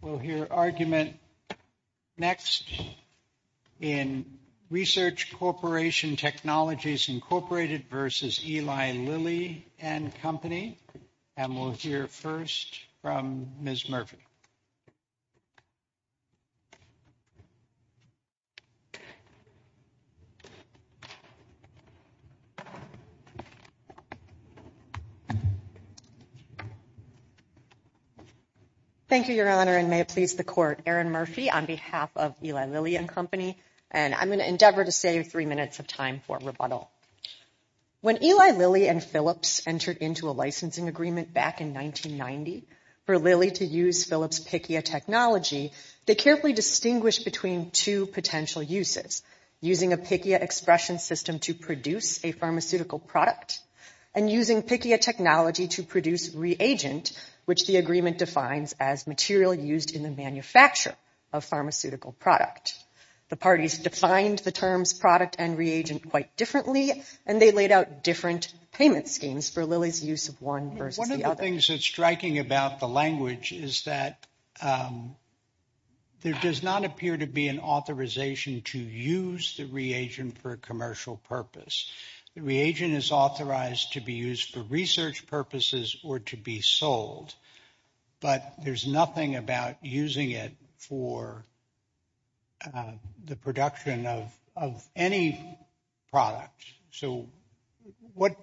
We'll hear argument next in Research Corporation Technologies Incorporated versus Eli Lilly and Company. And we'll hear first from Ms. Murphy. Thank you, Your Honor, and may it please the Court. Erin Murphy on behalf of Eli Lilly and Company, and I'm going to endeavor to save three minutes of time for rebuttal. When Eli Lilly and Philips entered into a licensing agreement back in 1990 for Lilly to use Philips' PICIA technology, they carefully distinguished between two potential uses, using a PICIA expression system to produce a pharmaceutical product and using PICIA technology to produce reagent, which the agreement defines as material used in the manufacture of pharmaceutical product. The parties defined the terms product and reagent quite differently, and they laid out different payment schemes for Lilly's use of one versus the other. One of the things that's striking about the language is that there does not appear to be an authorization to use the reagent for a commercial purpose. The reagent is authorized to be used for research purposes or to be sold, but there's nothing about using it for the production of any product. So what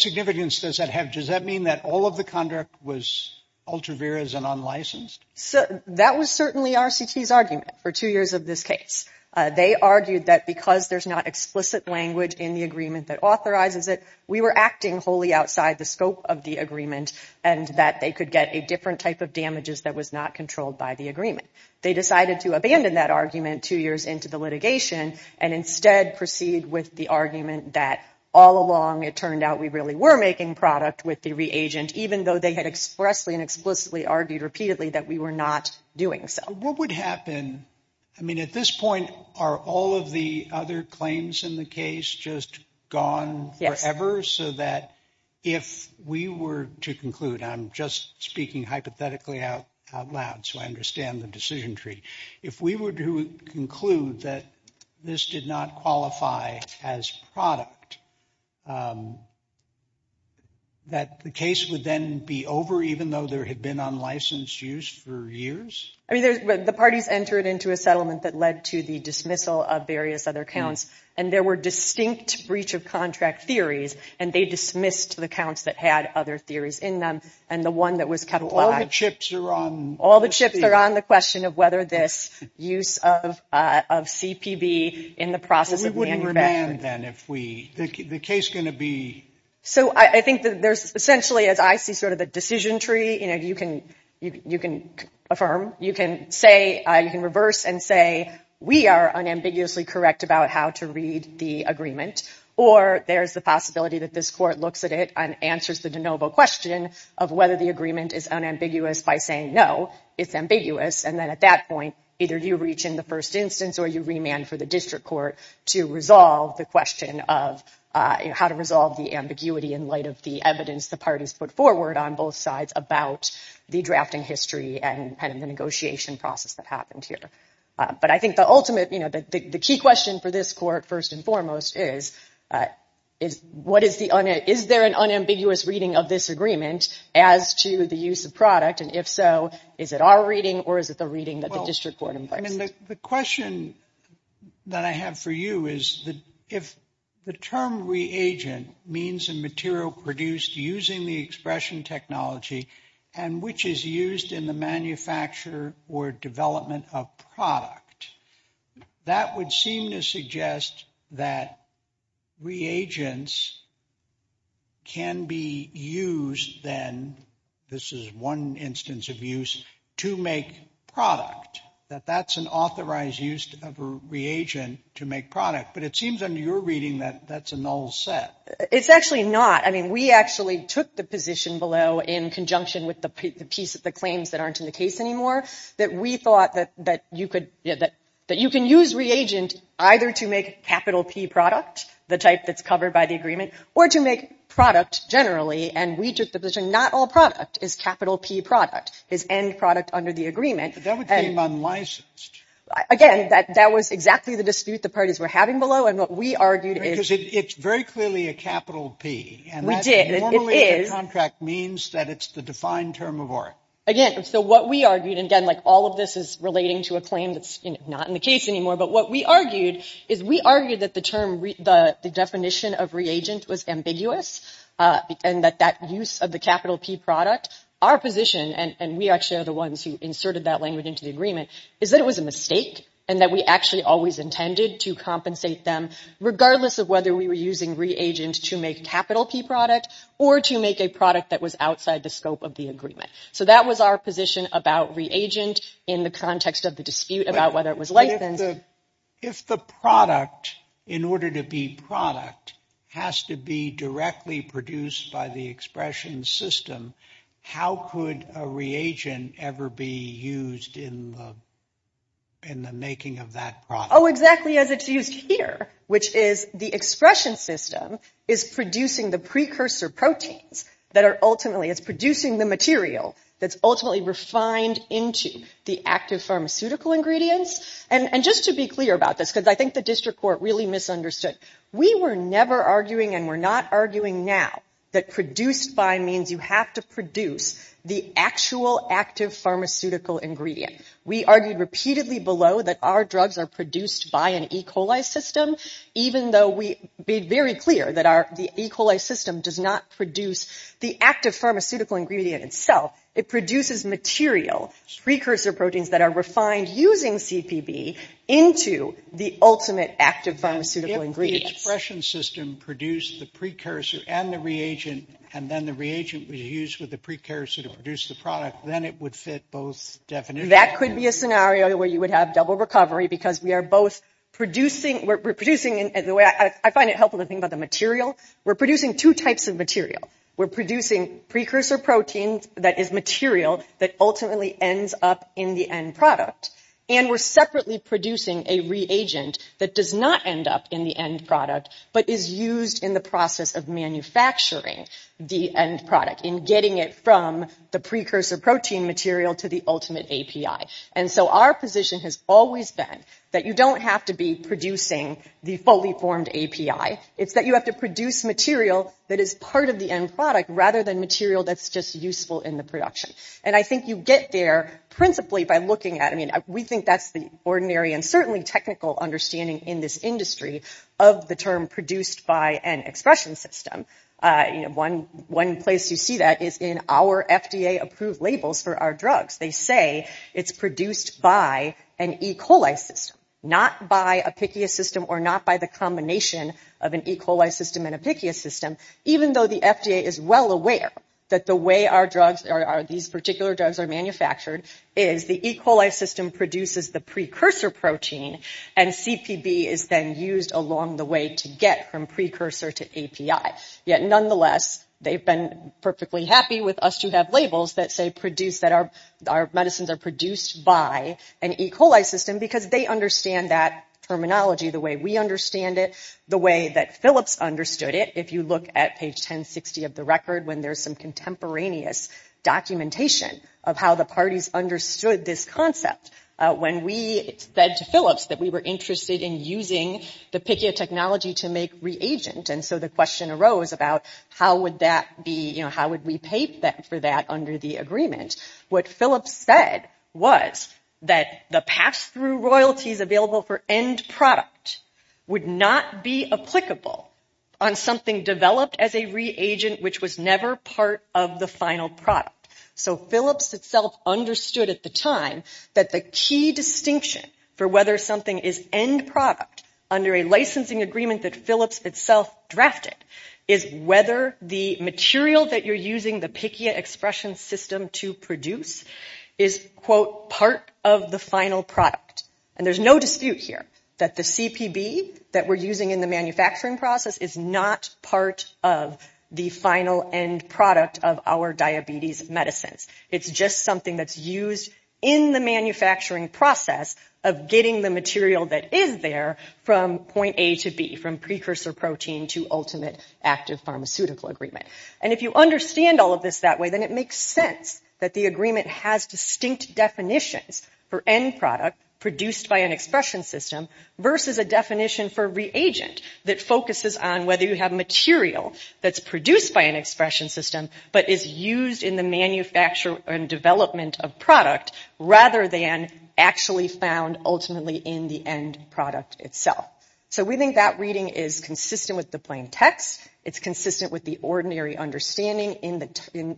significance does that have? Does that mean that all of the conduct was ultra-virous and unlicensed? That was certainly RCT's argument for two years of this case. They argued that because there's not explicit language in the agreement that authorizes it, we were acting wholly outside the scope of the agreement and that they could get a different type of damages that was not controlled by the agreement. They decided to abandon that argument two years into the litigation and instead proceed with the argument that all along it turned out we really were making product with the reagent, even though they had expressly and explicitly argued repeatedly that we were not doing so. What would happen, I mean at this point, are all of the other claims in the case just gone forever so that if we were to conclude, I'm just speaking hypothetically out loud so I understand the decision tree, if we were to conclude that this did not qualify as product, that the case would then be over even though there had been unlicensed use for years? The parties entered into a settlement that led to the dismissal of various other counts and there were distinct breach of contract theories and they dismissed the counts that had other theories in them and the one that was kept alive. All the chips are on the question of whether this use of CPB in the process of manufacturing. We wouldn't remand then if we, the case is going to be? So I think that there's essentially as I see sort of the decision tree, you know, you can affirm, you can say, you can reverse and say we are unambiguously correct about how to read the agreement or there's the possibility that this court looks at it and answers the de novo question of whether the agreement is unambiguous by saying no, it's ambiguous and then at that point either you reach in the first instance or you remand for the district court to resolve the question of how to resolve the ambiguity. In light of the evidence, the parties put forward on both sides about the drafting history and the negotiation process that happened here. But I think the ultimate, you know, the key question for this court first and foremost is, is what is the is there an unambiguous reading of this agreement as to the use of product? And if so, is it our reading or is it the reading that the district court? The question that I have for you is that if the term reagent means a material produced using the expression technology and which is used in the manufacture or development of product, that would seem to suggest that reagents can be used then, this is one instance of use, to make product, that that's an authorized use of a reagent to make product. But it seems under your reading that that's a null set. It's actually not. I mean, we actually took the position below in conjunction with the piece of the claims that aren't in the case anymore that we thought that you could get that you can use reagent either to make capital P product, the type that's covered by the agreement, or to make product generally. And we took the position not all product is capital P product is end product under the agreement. Again, that that was exactly the dispute the parties were having below. And what we argued is it's very clearly a capital P. And we did it is contract means that it's the defined term of our again. So what we argued, again, like all of this is relating to a claim that's not in the case anymore. But what we argued is we argued that the term the definition of reagent was ambiguous and that that use of the capital P product, our position. And we actually are the ones who inserted that language into the agreement is that it was a mistake and that we actually always intended to compensate them, regardless of whether we were using reagent to make capital P product or to make a product that was outside the scope of the agreement. So that was our position about reagent in the context of the dispute about whether it was like the if the product in order to be product has to be directly produced by the expression system. How could a reagent ever be used in. In the making of that. Oh, exactly. As it's used here, which is the expression system is producing the precursor proteins that are ultimately is producing the material that's ultimately refined into the active pharmaceutical ingredients. And just to be clear about this, because I think the district court really misunderstood. We were never arguing and we're not arguing now that produced by means you have to produce the actual active pharmaceutical ingredient. We argued repeatedly below that our drugs are produced by an E. coli system, even though we be very clear that our E. coli system does not produce the active pharmaceutical ingredient itself. It produces material precursor proteins that are refined using C.P.B. into the ultimate active pharmaceutical ingredient. The expression system produced the precursor and the reagent, and then the reagent was used with the precursor to produce the product. Then it would fit both. Definitely. That could be a scenario where you would have double recovery because we are both producing. We're producing it the way I find it helpful to think about the material. We're producing two types of material. We're producing precursor proteins that is material that ultimately ends up in the end product, and we're separately producing a reagent that does not end up in the end product, but is used in the process of manufacturing the end product in getting it from the precursor protein material to the ultimate API. And so our position has always been that you don't have to be producing the fully formed API. It's that you have to produce material that is part of the end product rather than material that's just useful in the production. And I think you get there principally by looking at it. I mean, we think that's the ordinary and certainly technical understanding in this industry of the term produced by an expression system. One place you see that is in our FDA approved labels for our drugs. They say it's produced by an E. coli system, not by a PICU system or not by the combination of an E. coli system and a PICU system, even though the FDA is well aware that the way these particular drugs are manufactured is the E. coli system produces the precursor protein, and CPB is then used along the way to get from precursor to API. Yet nonetheless, they've been perfectly happy with us to have labels that say produced that our medicines are produced by an E. coli system because they understand that terminology the way we understand it, the way that Phillips understood it. If you look at page 1060 of the record when there's some contemporaneous documentation of how the parties understood this concept, when we said to Phillips that we were interested in using the PICU technology to make reagent, and so the question arose about how would we pay for that under the agreement? What Phillips said was that the pass-through royalties available for end product would not be applicable on something developed as a reagent which was never part of the final product. So Phillips itself understood at the time that the key distinction for whether something is end product under a licensing agreement that Phillips itself drafted is whether the material that you're using the PICU expression system to produce is, quote, part of the final product. And there's no dispute here that the CPB that we're using in the manufacturing process is not part of the final end product of our diabetes medicines. It's just something that's used in the manufacturing process of getting the material that is there from point A to B, from precursor protein to ultimate active pharmaceutical agreement. And if you understand all of this that way, then it makes sense that the agreement has distinct definitions for end product produced by an expression system versus a definition for reagent that focuses on whether you have material that's produced by an expression system but is used in the manufacture and development of product rather than actually found ultimately in the end product itself. So we think that reading is consistent with the plain text. It's consistent with the ordinary understanding in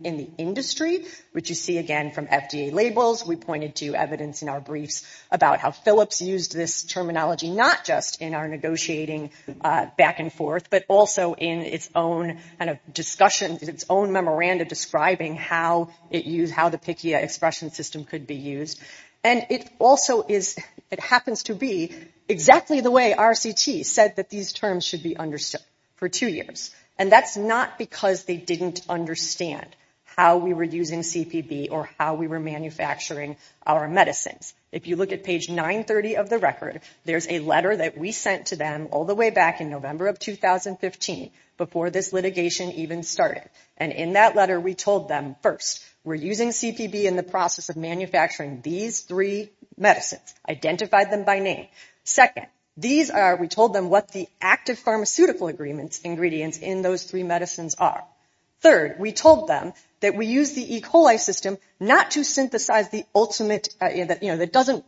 the industry, which you see again from FDA labels. We pointed to evidence in our briefs about how Phillips used this terminology not just in our negotiating back and forth, but also in its own kind of discussion, its own memorandum describing how it used, how the PICIA expression system could be used. And it also is, it happens to be exactly the way RCT said that these terms should be understood for two years. And that's not because they didn't understand how we were using CPB or how we were manufacturing our medicines. If you look at page 930 of the record, there's a letter that we sent to them all the way back in November of 2015 before this litigation even started. And in that letter, we told them, first, we're using CPB in the process of manufacturing these three medicines, identified them by name. Second, these are, we told them what the active pharmaceutical ingredients in those three medicines are. Third, we told them that we use the E. coli system not to synthesize the ultimate, you know, that doesn't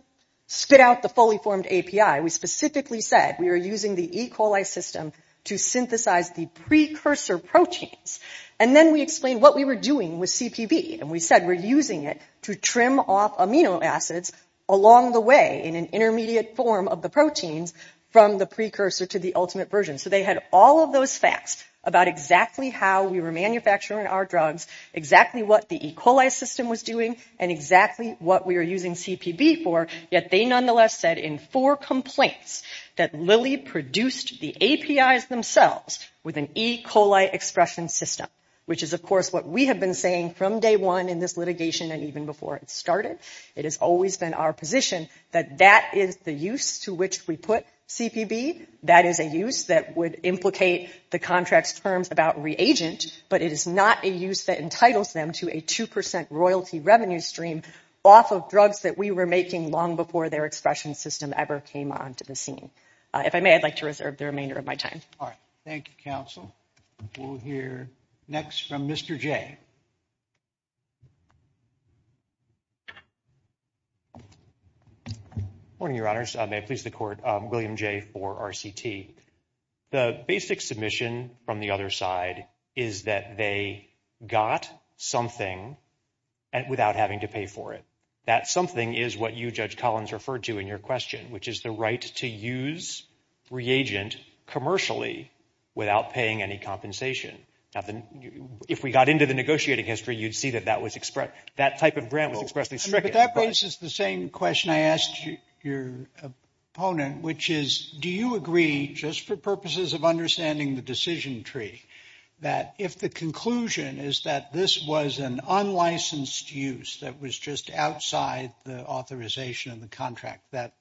spit out the fully formed API. We specifically said we were using the E. coli system to synthesize the precursor proteins. And then we explained what we were doing with CPB. And we said we're using it to trim off amino acids along the way in an intermediate form of the proteins from the precursor to the ultimate version. So they had all of those facts about exactly how we were manufacturing our drugs, exactly what the E. coli system was doing, and exactly what we were using CPB for. Yet they nonetheless said in four complaints that Lilly produced the APIs themselves with an E. coli expression system, which is, of course, what we have been saying from day one in this litigation and even before it started. It has always been our position that that is the use to which we put CPB. That is a use that would implicate the contract's terms about reagent, but it is not a use that entitles them to a 2 percent royalty revenue stream off of drugs that we were making long before their expression system ever came onto the scene. If I may, I'd like to reserve the remainder of my time. Thank you, counsel. We'll hear next from Mr. J. Morning, Your Honors. May it please the Court. William J. for RCT. The basic submission from the other side is that they got something without having to pay for it. That something is what you, Judge Collins, referred to in your question, which is the right to use reagent commercially without paying any compensation. If we got into the negotiating history, you'd see that that type of grant was expressly stricken. That raises the same question I asked your opponent, which is, do you agree, just for purposes of understanding the decision tree, that if the conclusion is that this was an unlicensed use that was just outside the authorization of the contract, that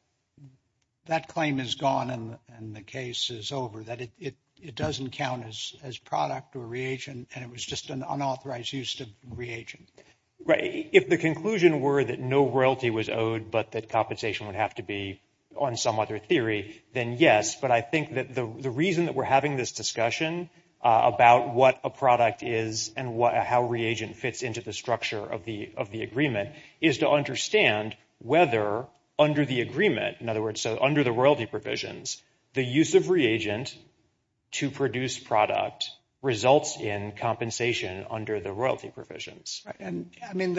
that claim is gone and the case is over, that it doesn't count as product or reagent, and it was just an unauthorized use of reagent? Right. If the conclusion were that no royalty was owed, but that compensation would have to be on some other theory, then yes. But I think that the reason that we're having this discussion about what a product is and how reagent fits into the structure of the agreement is to understand whether under the agreement, in other words, under the royalty provisions, the use of reagent to produce product results in compensation under the royalty provisions. And I mean,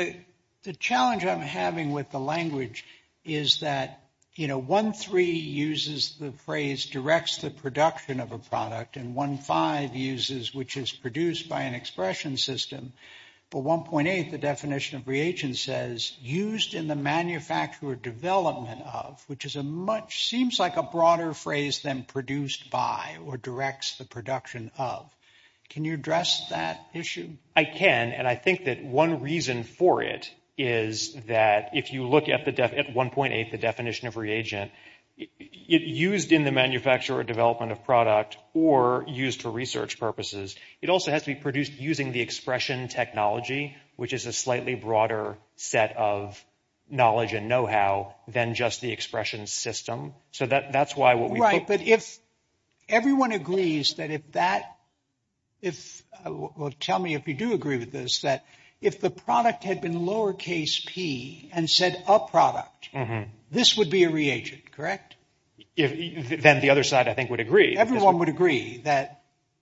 the challenge I'm having with the language is that, you know, 1.3 uses the phrase directs the production of a product and 1.5 uses which is produced by an expression system. But 1.8, the definition of reagent says used in the manufacture or development of, which is a much seems like a broader phrase than produced by or directs the production of. Can you address that issue? I can. And I think that one reason for it is that if you look at the at 1.8, the definition of reagent used in the manufacture or development of product or used for research purposes, it also has to be produced using the expression technology, which is a slightly broader set of knowledge and know-how than just the expression system. So that that's why what we write. But if everyone agrees that if that if. Tell me if you do agree with this, that if the product had been lowercase p and said a product, this would be a reagent, correct? Then the other side, I think, would agree. Everyone would agree that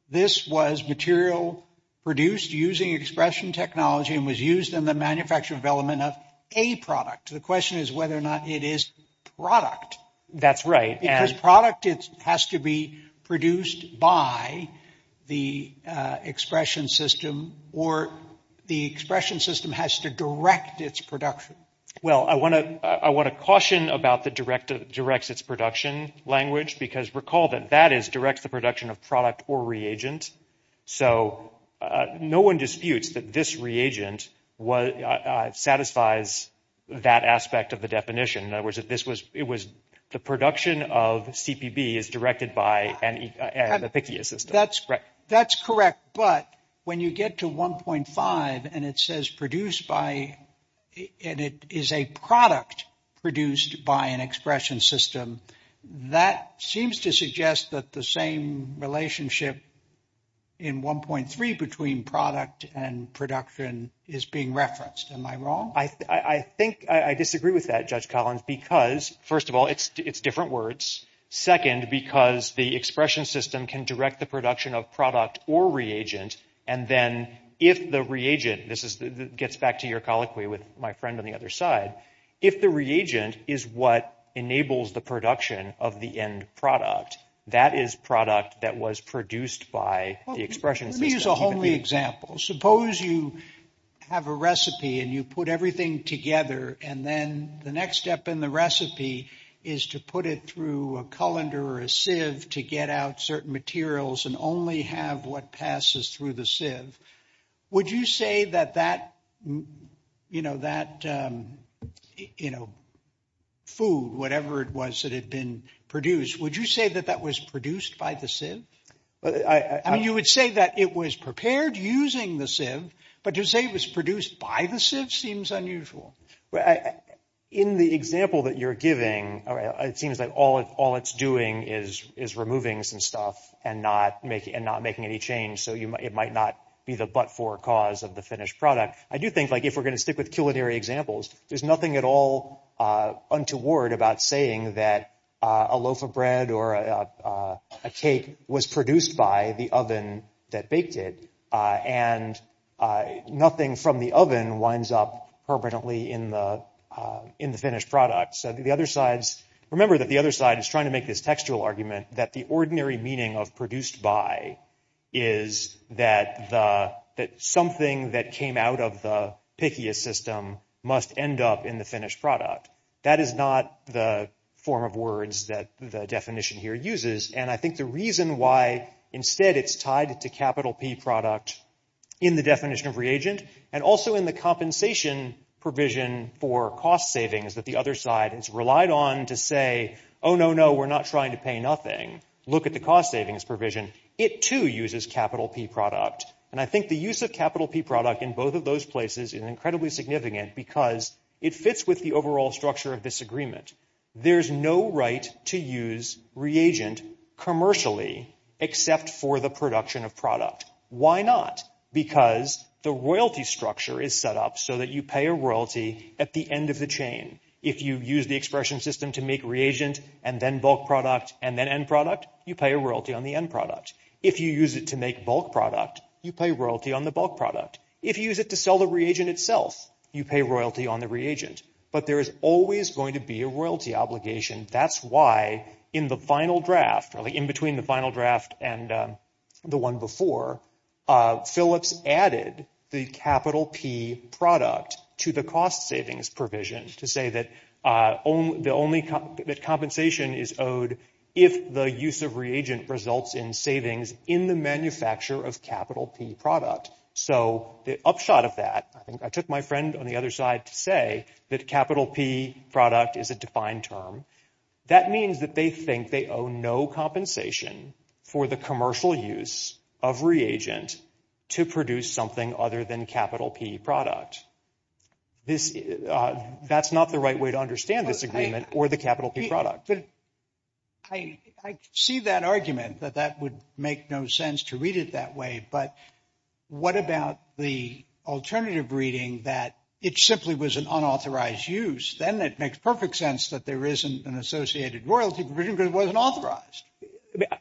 this was material produced using expression technology and was used in the manufacture development of a product. The question is whether or not it is product. That's right. As product, it has to be produced by the expression system or the expression system has to direct its production. Well, I want to I want to caution about the direct directs its production language, because recall that that is directs the production of product or reagent. So no one disputes that this reagent was satisfies that aspect of the definition. Was it this was it was the production of CPB is directed by the system. That's correct. That's correct. But when you get to one point five and it says produced by. And it is a product produced by an expression system. That seems to suggest that the same relationship in one point three between product and production is being referenced. Am I wrong? I think I disagree with that, Judge Collins, because, first of all, it's it's different words. Second, because the expression system can direct the production of product or reagent. And then if the reagent this is gets back to your colloquy with my friend on the other side, if the reagent is what enables the production of the end product, that is product that was produced by the expression. These are only examples. Suppose you have a recipe and you put everything together. And then the next step in the recipe is to put it through a colander or a sieve to get out certain materials and only have what passes through the sieve. Would you say that that, you know, that, you know. Food, whatever it was that had been produced, would you say that that was produced by the sieve? I mean, you would say that it was prepared using the sieve, but to say it was produced by the sieve seems unusual. In the example that you're giving, it seems like all of all it's doing is is removing some stuff and not making and not making any change. So it might not be the but for cause of the finished product. I do think like if we're going to stick with culinary examples, there's nothing at all untoward about saying that a loaf of bread or a cake was produced by the oven that baked it. And nothing from the oven winds up permanently in the in the finished product. So the other sides remember that the other side is trying to make this textual argument that the ordinary meaning of produced by is that the that something that came out of the system must end up in the finished product. That is not the form of words that the definition here uses. And I think the reason why instead it's tied to capital P product in the definition of reagent and also in the compensation provision for cost savings, that the other side is relied on to say, oh, no, no, we're not trying to pay nothing. Look at the cost savings provision. It, too, uses capital P product. And I think the use of capital P product in both of those places is incredibly significant because it fits with the overall structure of this agreement. There's no right to use reagent commercially except for the production of product. Why not? Because the royalty structure is set up so that you pay a royalty at the end of the chain. If you use the expression system to make reagent and then bulk product and then end product, you pay a royalty on the end product. If you use it to make bulk product, you pay royalty on the bulk product. If you use it to sell the reagent itself, you pay royalty on the reagent. But there is always going to be a royalty obligation. That's why in the final draft, really in between the final draft and the one before Phillips added the capital P product to the cost savings provision to say that the only compensation is owed if the use of reagent results in savings in the manufacture of capital P product. So the upshot of that, I think I took my friend on the other side to say that capital P product is a defined term. That means that they think they owe no compensation for the commercial use of reagent to produce something other than capital P product. This that's not the right way to understand this agreement or the capital P product. I see that argument that that would make no sense to read it that way. But what about the alternative reading that it simply was an unauthorized use? Then it makes perfect sense that there isn't an associated royalty provision because it wasn't authorized.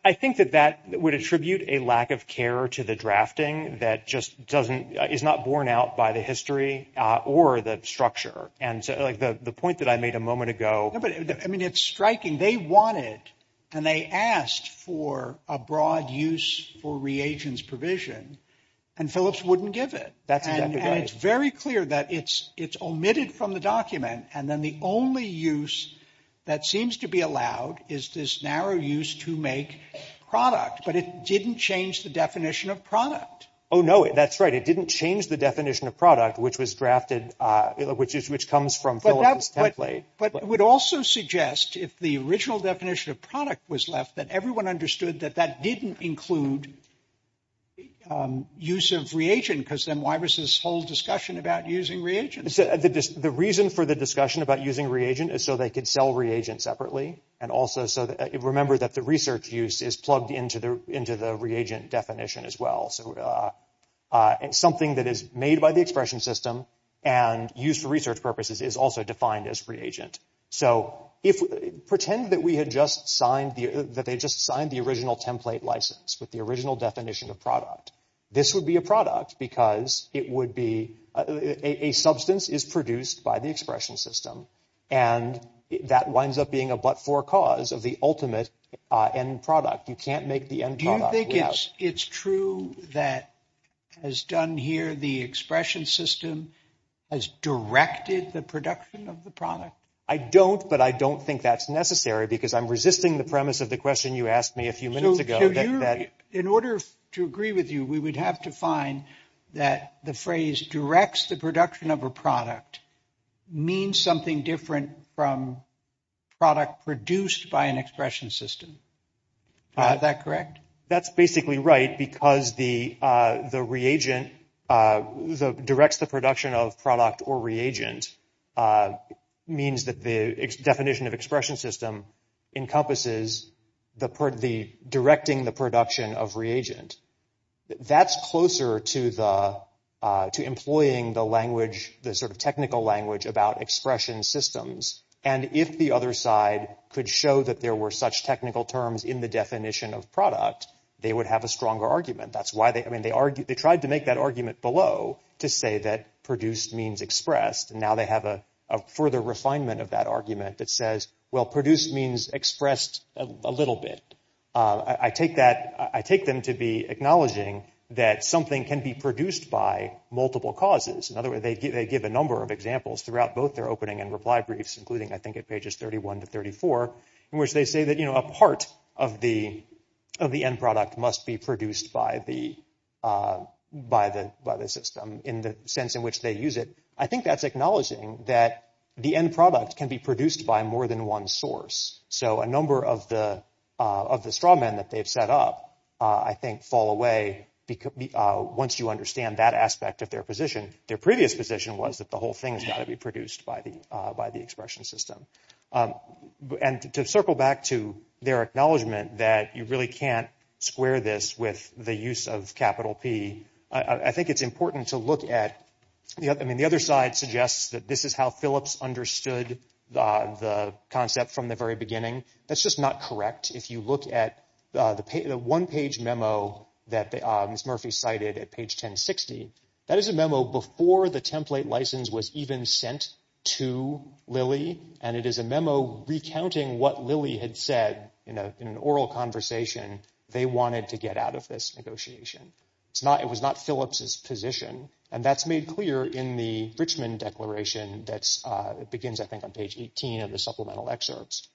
I think that that would attribute a lack of care to the drafting that just doesn't is not borne out by the history or the structure. And so the point that I made a moment ago, I mean, it's striking. They wanted and they asked for a broad use for reagents provision and Phillips wouldn't give it. And it's very clear that it's it's omitted from the document. And then the only use that seems to be allowed is this narrow use to make product. But it didn't change the definition of product. Oh, no, that's right. It didn't change the definition of product, which was drafted, which is which comes from. But it would also suggest if the original definition of product was left, that everyone understood that that didn't include. Use of reagent, because then why was this whole discussion about using reagents? The reason for the discussion about using reagent is so they could sell reagent separately. And also so that you remember that the research use is plugged into the into the reagent definition as well. So it's something that is made by the expression system and used for research purposes is also defined as reagent. So if we pretend that we had just signed that they just signed the original template license with the original definition of product, this would be a product because it would be a substance is produced by the expression system. And that winds up being a but for cause of the ultimate end product. They guess it's true that has done here. The expression system has directed the production of the product. I don't but I don't think that's necessary because I'm resisting the premise of the question you asked me a few minutes ago. In order to agree with you, we would have to find that the phrase directs the production of a product means something different from product produced by an expression system. Is that correct? That's basically right. Because the the reagent directs the production of product or reagent means that the definition of expression system encompasses the part of the directing the production of reagent. That's closer to the to employing the language, the sort of technical language about expression systems. And if the other side could show that there were such technical terms in the definition of product, they would have a stronger argument. That's why they I mean, they argue they tried to make that argument below to say that produced means expressed. And now they have a further refinement of that argument that says, well, produced means expressed a little bit. I take that. I take them to be acknowledging that something can be produced by multiple causes. In other words, they give they give a number of examples throughout both their opening and reply briefs, including, I think, at pages thirty one to thirty four in which they say that, you know, a part of the of the end product must be produced by the by the by the system in the sense in which they use it. I think that's acknowledging that the end product can be produced by more than one source. So a number of the of the straw men that they've set up, I think, fall away because once you understand that aspect of their position, their previous position was that the whole thing is going to be produced by the by the expression system. And to circle back to their acknowledgement that you really can't square this with the use of capital P. I think it's important to look at. I mean, the other side suggests that this is how Phillips understood the concept from the very beginning. That's just not correct. If you look at the one page memo that Murphy cited at page 1060, that is a memo before the template license was even sent to Lily. And it is a memo recounting what Lily had said in an oral conversation. They wanted to get out of this negotiation. It's not it was not Phillips's position. And that's made clear in the Richmond Declaration. That's begins, I think, on page 18 of the supplemental excerpts.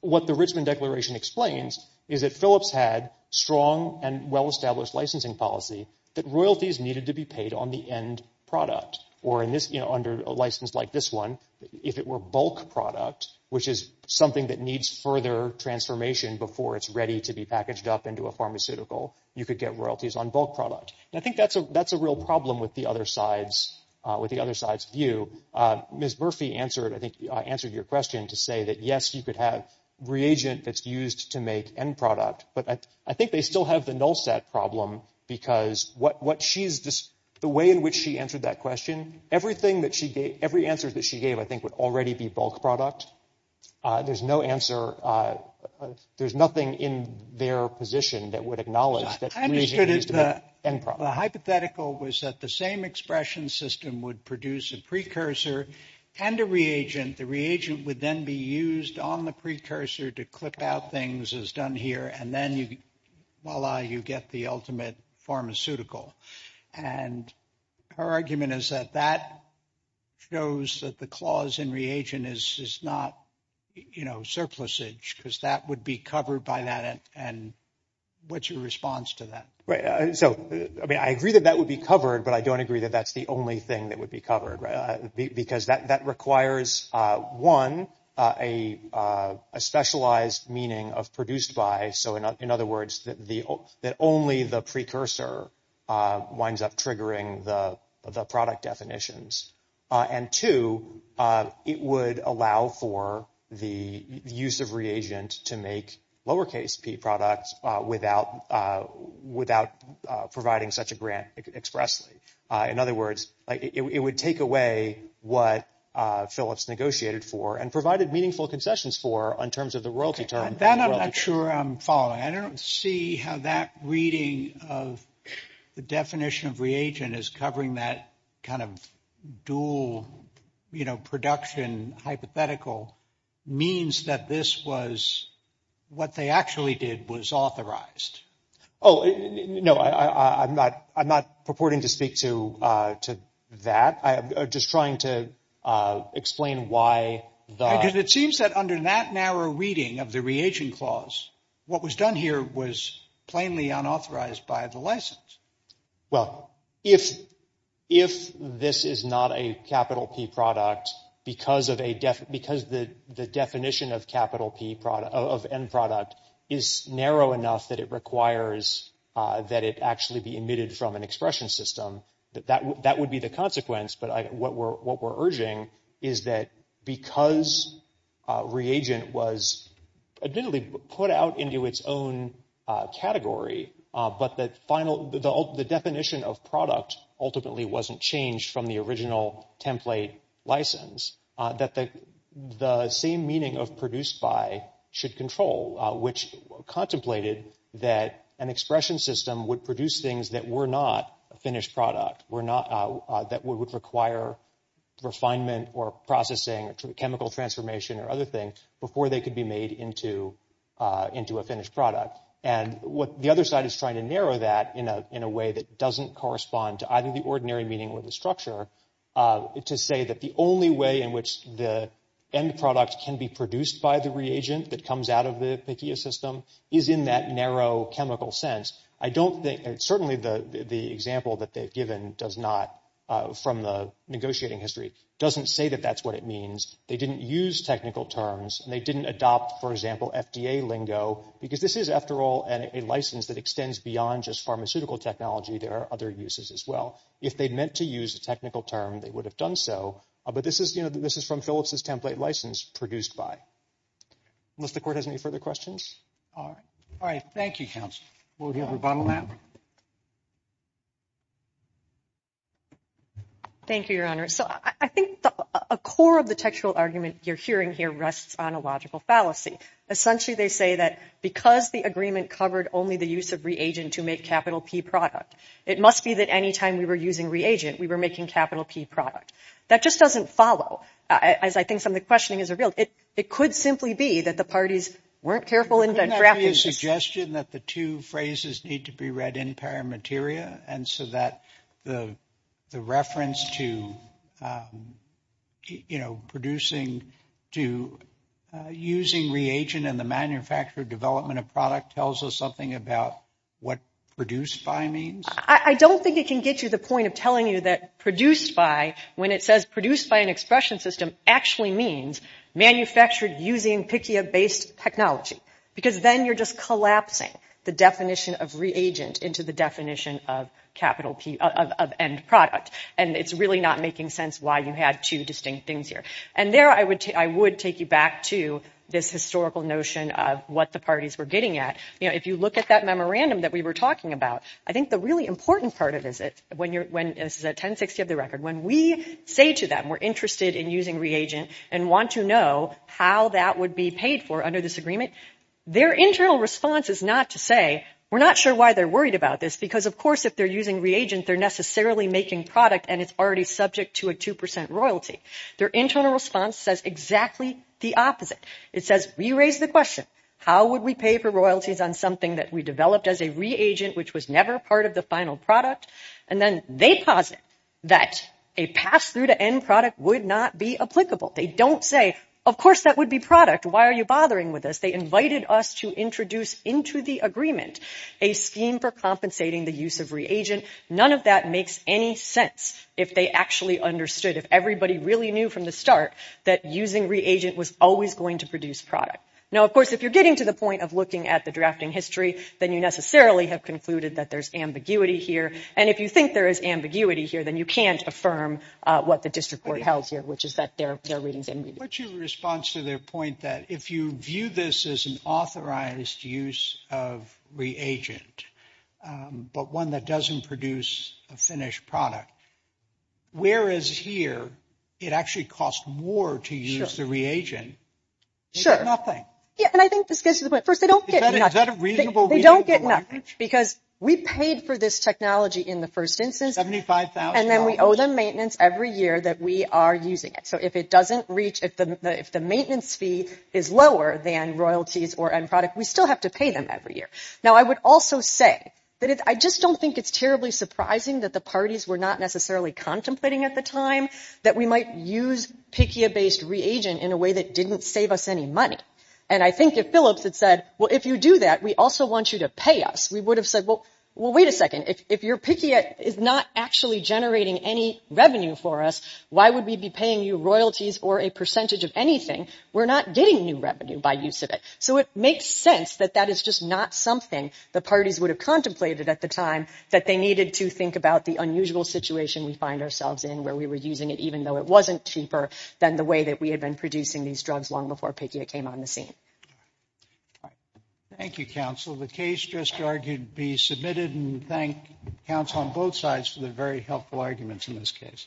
What the Richmond Declaration explains is that Phillips had strong and well-established licensing policy that royalties needed to be paid on the end product. Or in this under a license like this one, if it were bulk product, which is something that needs further transformation before it's ready to be packaged up into a pharmaceutical, you could get royalties on bulk product. And I think that's a that's a real problem with the other sides, with the other side's view. Ms. Murphy answered, I think, answered your question to say that, yes, you could have reagent that's used to make end product. But I think they still have the null set problem because what what she's just the way in which she answered that question, everything that she gave, every answer that she gave, I think, would already be bulk product. There's no answer. There's nothing in their position that would acknowledge that. The hypothetical was that the same expression system would produce a precursor and a reagent. The reagent would then be used on the precursor to clip out things as done here. And then you while you get the ultimate pharmaceutical and her argument is that that shows that the clause in reagent is not, you know, surplusage because that would be covered by that. And what's your response to that? So, I mean, I agree that that would be covered, but I don't agree that that's the only thing that would be covered. Because that requires, one, a specialized meaning of produced by. So in other words, that the that only the precursor winds up triggering the product definitions. And two, it would allow for the use of reagent to make lowercase p products without without providing such a grant expressly. In other words, it would take away what Phillips negotiated for and provided meaningful concessions for in terms of the royalty term. Then I'm not sure I'm following. I don't see how that reading of the definition of reagent is covering that kind of dual production. Hypothetical means that this was what they actually did was authorized. Oh, no, I'm not. I'm not purporting to speak to to that. I am just trying to explain why. Because it seems that under that narrow reading of the reagent clause, what was done here was plainly unauthorized by the license. Well, if if this is not a capital P product because of a death, because the the definition of capital P product of end product is narrow enough that it requires that it actually be emitted from an expression system. That that that would be the consequence. But what we're what we're urging is that because reagent was admittedly put out into its own category, but that final the definition of product ultimately wasn't changed from the original template license, that the same meaning of produced by should control which contemplated that an expression system would produce things that were not a finished product were not that would require refinement or processing, chemical transformation or other things before they could be made into into a finished product. And what the other side is trying to narrow that in a in a way that doesn't correspond to either the ordinary meeting with the structure to say that the only way in which the end product can be produced by the reagent that comes out of the system is in that narrow chemical sense. I don't think certainly the the example that they've given does not from the negotiating history doesn't say that that's what it means. They didn't use technical terms and they didn't adopt, for example, FDA lingo, because this is, after all, a license that extends beyond just pharmaceutical technology. There are other uses as well. If they'd meant to use a technical term, they would have done so. But this is you know, this is from Phillips's template license produced by. Unless the court has any further questions. All right. Thank you, counsel. Thank you, Your Honor. So I think a core of the textual argument you're hearing here rests on a logical fallacy. Essentially, they say that because the agreement covered only the use of reagent to make capital P product, it must be that any time we were using reagent, we were making capital P product. That just doesn't follow, as I think some of the questioning is revealed. It it could simply be that the parties weren't careful in drafting a suggestion that the two phrases need to be read in paramateria. And so that the the reference to, you know, producing to using reagent and the manufacturer development of product tells us something about what produced by means. I don't think it can get you the point of telling you that produced by when it says produced by an expression system actually means manufactured using PICCIA based technology, because then you're just collapsing the definition of reagent into the definition of capital P of end product. And it's really not making sense why you had two distinct things here. And there I would I would take you back to this historical notion of what the parties were getting at. You know, if you look at that memorandum that we were talking about, I think the really important part of it is it when you're when this is a 1060 of the record, when we say to them we're interested in using reagent and want to know how that would be paid for under this agreement. Their internal response is not to say we're not sure why they're worried about this, because, of course, if they're using reagent, they're necessarily making product. And it's already subject to a two percent royalty. Their internal response says exactly the opposite. It says we raise the question, how would we pay for royalties on something that we developed as a reagent which was never part of the final product? And then they posit that a pass through to end product would not be applicable. They don't say, of course, that would be product. Why are you bothering with this? They invited us to introduce into the agreement a scheme for compensating the use of reagent. None of that makes any sense if they actually understood if everybody really knew from the start that using reagent was always going to produce product. Now, of course, if you're getting to the point of looking at the drafting history, then you necessarily have concluded that there's ambiguity here. And if you think there is ambiguity here, then you can't affirm what the district court held here, which is that there are readings. What's your response to their point that if you view this as an authorized use of reagent, but one that doesn't produce a finished product? Whereas here, it actually costs more to use the reagent. Sure. Nothing. Yeah. And I think this goes to the point. First, they don't get a reasonable. They don't get enough because we paid for this technology in the first instance. And then we owe them maintenance every year that we are using it. So if it doesn't reach if the if the maintenance fee is lower than royalties or end product, we still have to pay them every year. Now, I would also say that I just don't think it's terribly surprising that the parties were not necessarily contemplating at the time that we might use PICA based reagent in a way that didn't save us any money. And I think if Phillips had said, well, if you do that, we also want you to pay us. We would have said, well, wait a second, if you're picky, it is not actually generating any revenue for us. Why would we be paying you royalties or a percentage of anything? We're not getting new revenue by use of it. So it makes sense that that is just not something the parties would have contemplated at the time that they needed to think about the unusual situation we find ourselves in where we were using it, even though it wasn't cheaper than the way that we had been producing these drugs long before PICA came on the scene. Thank you, counsel. The case just argued be submitted and thank counsel on both sides for the very helpful arguments in this case.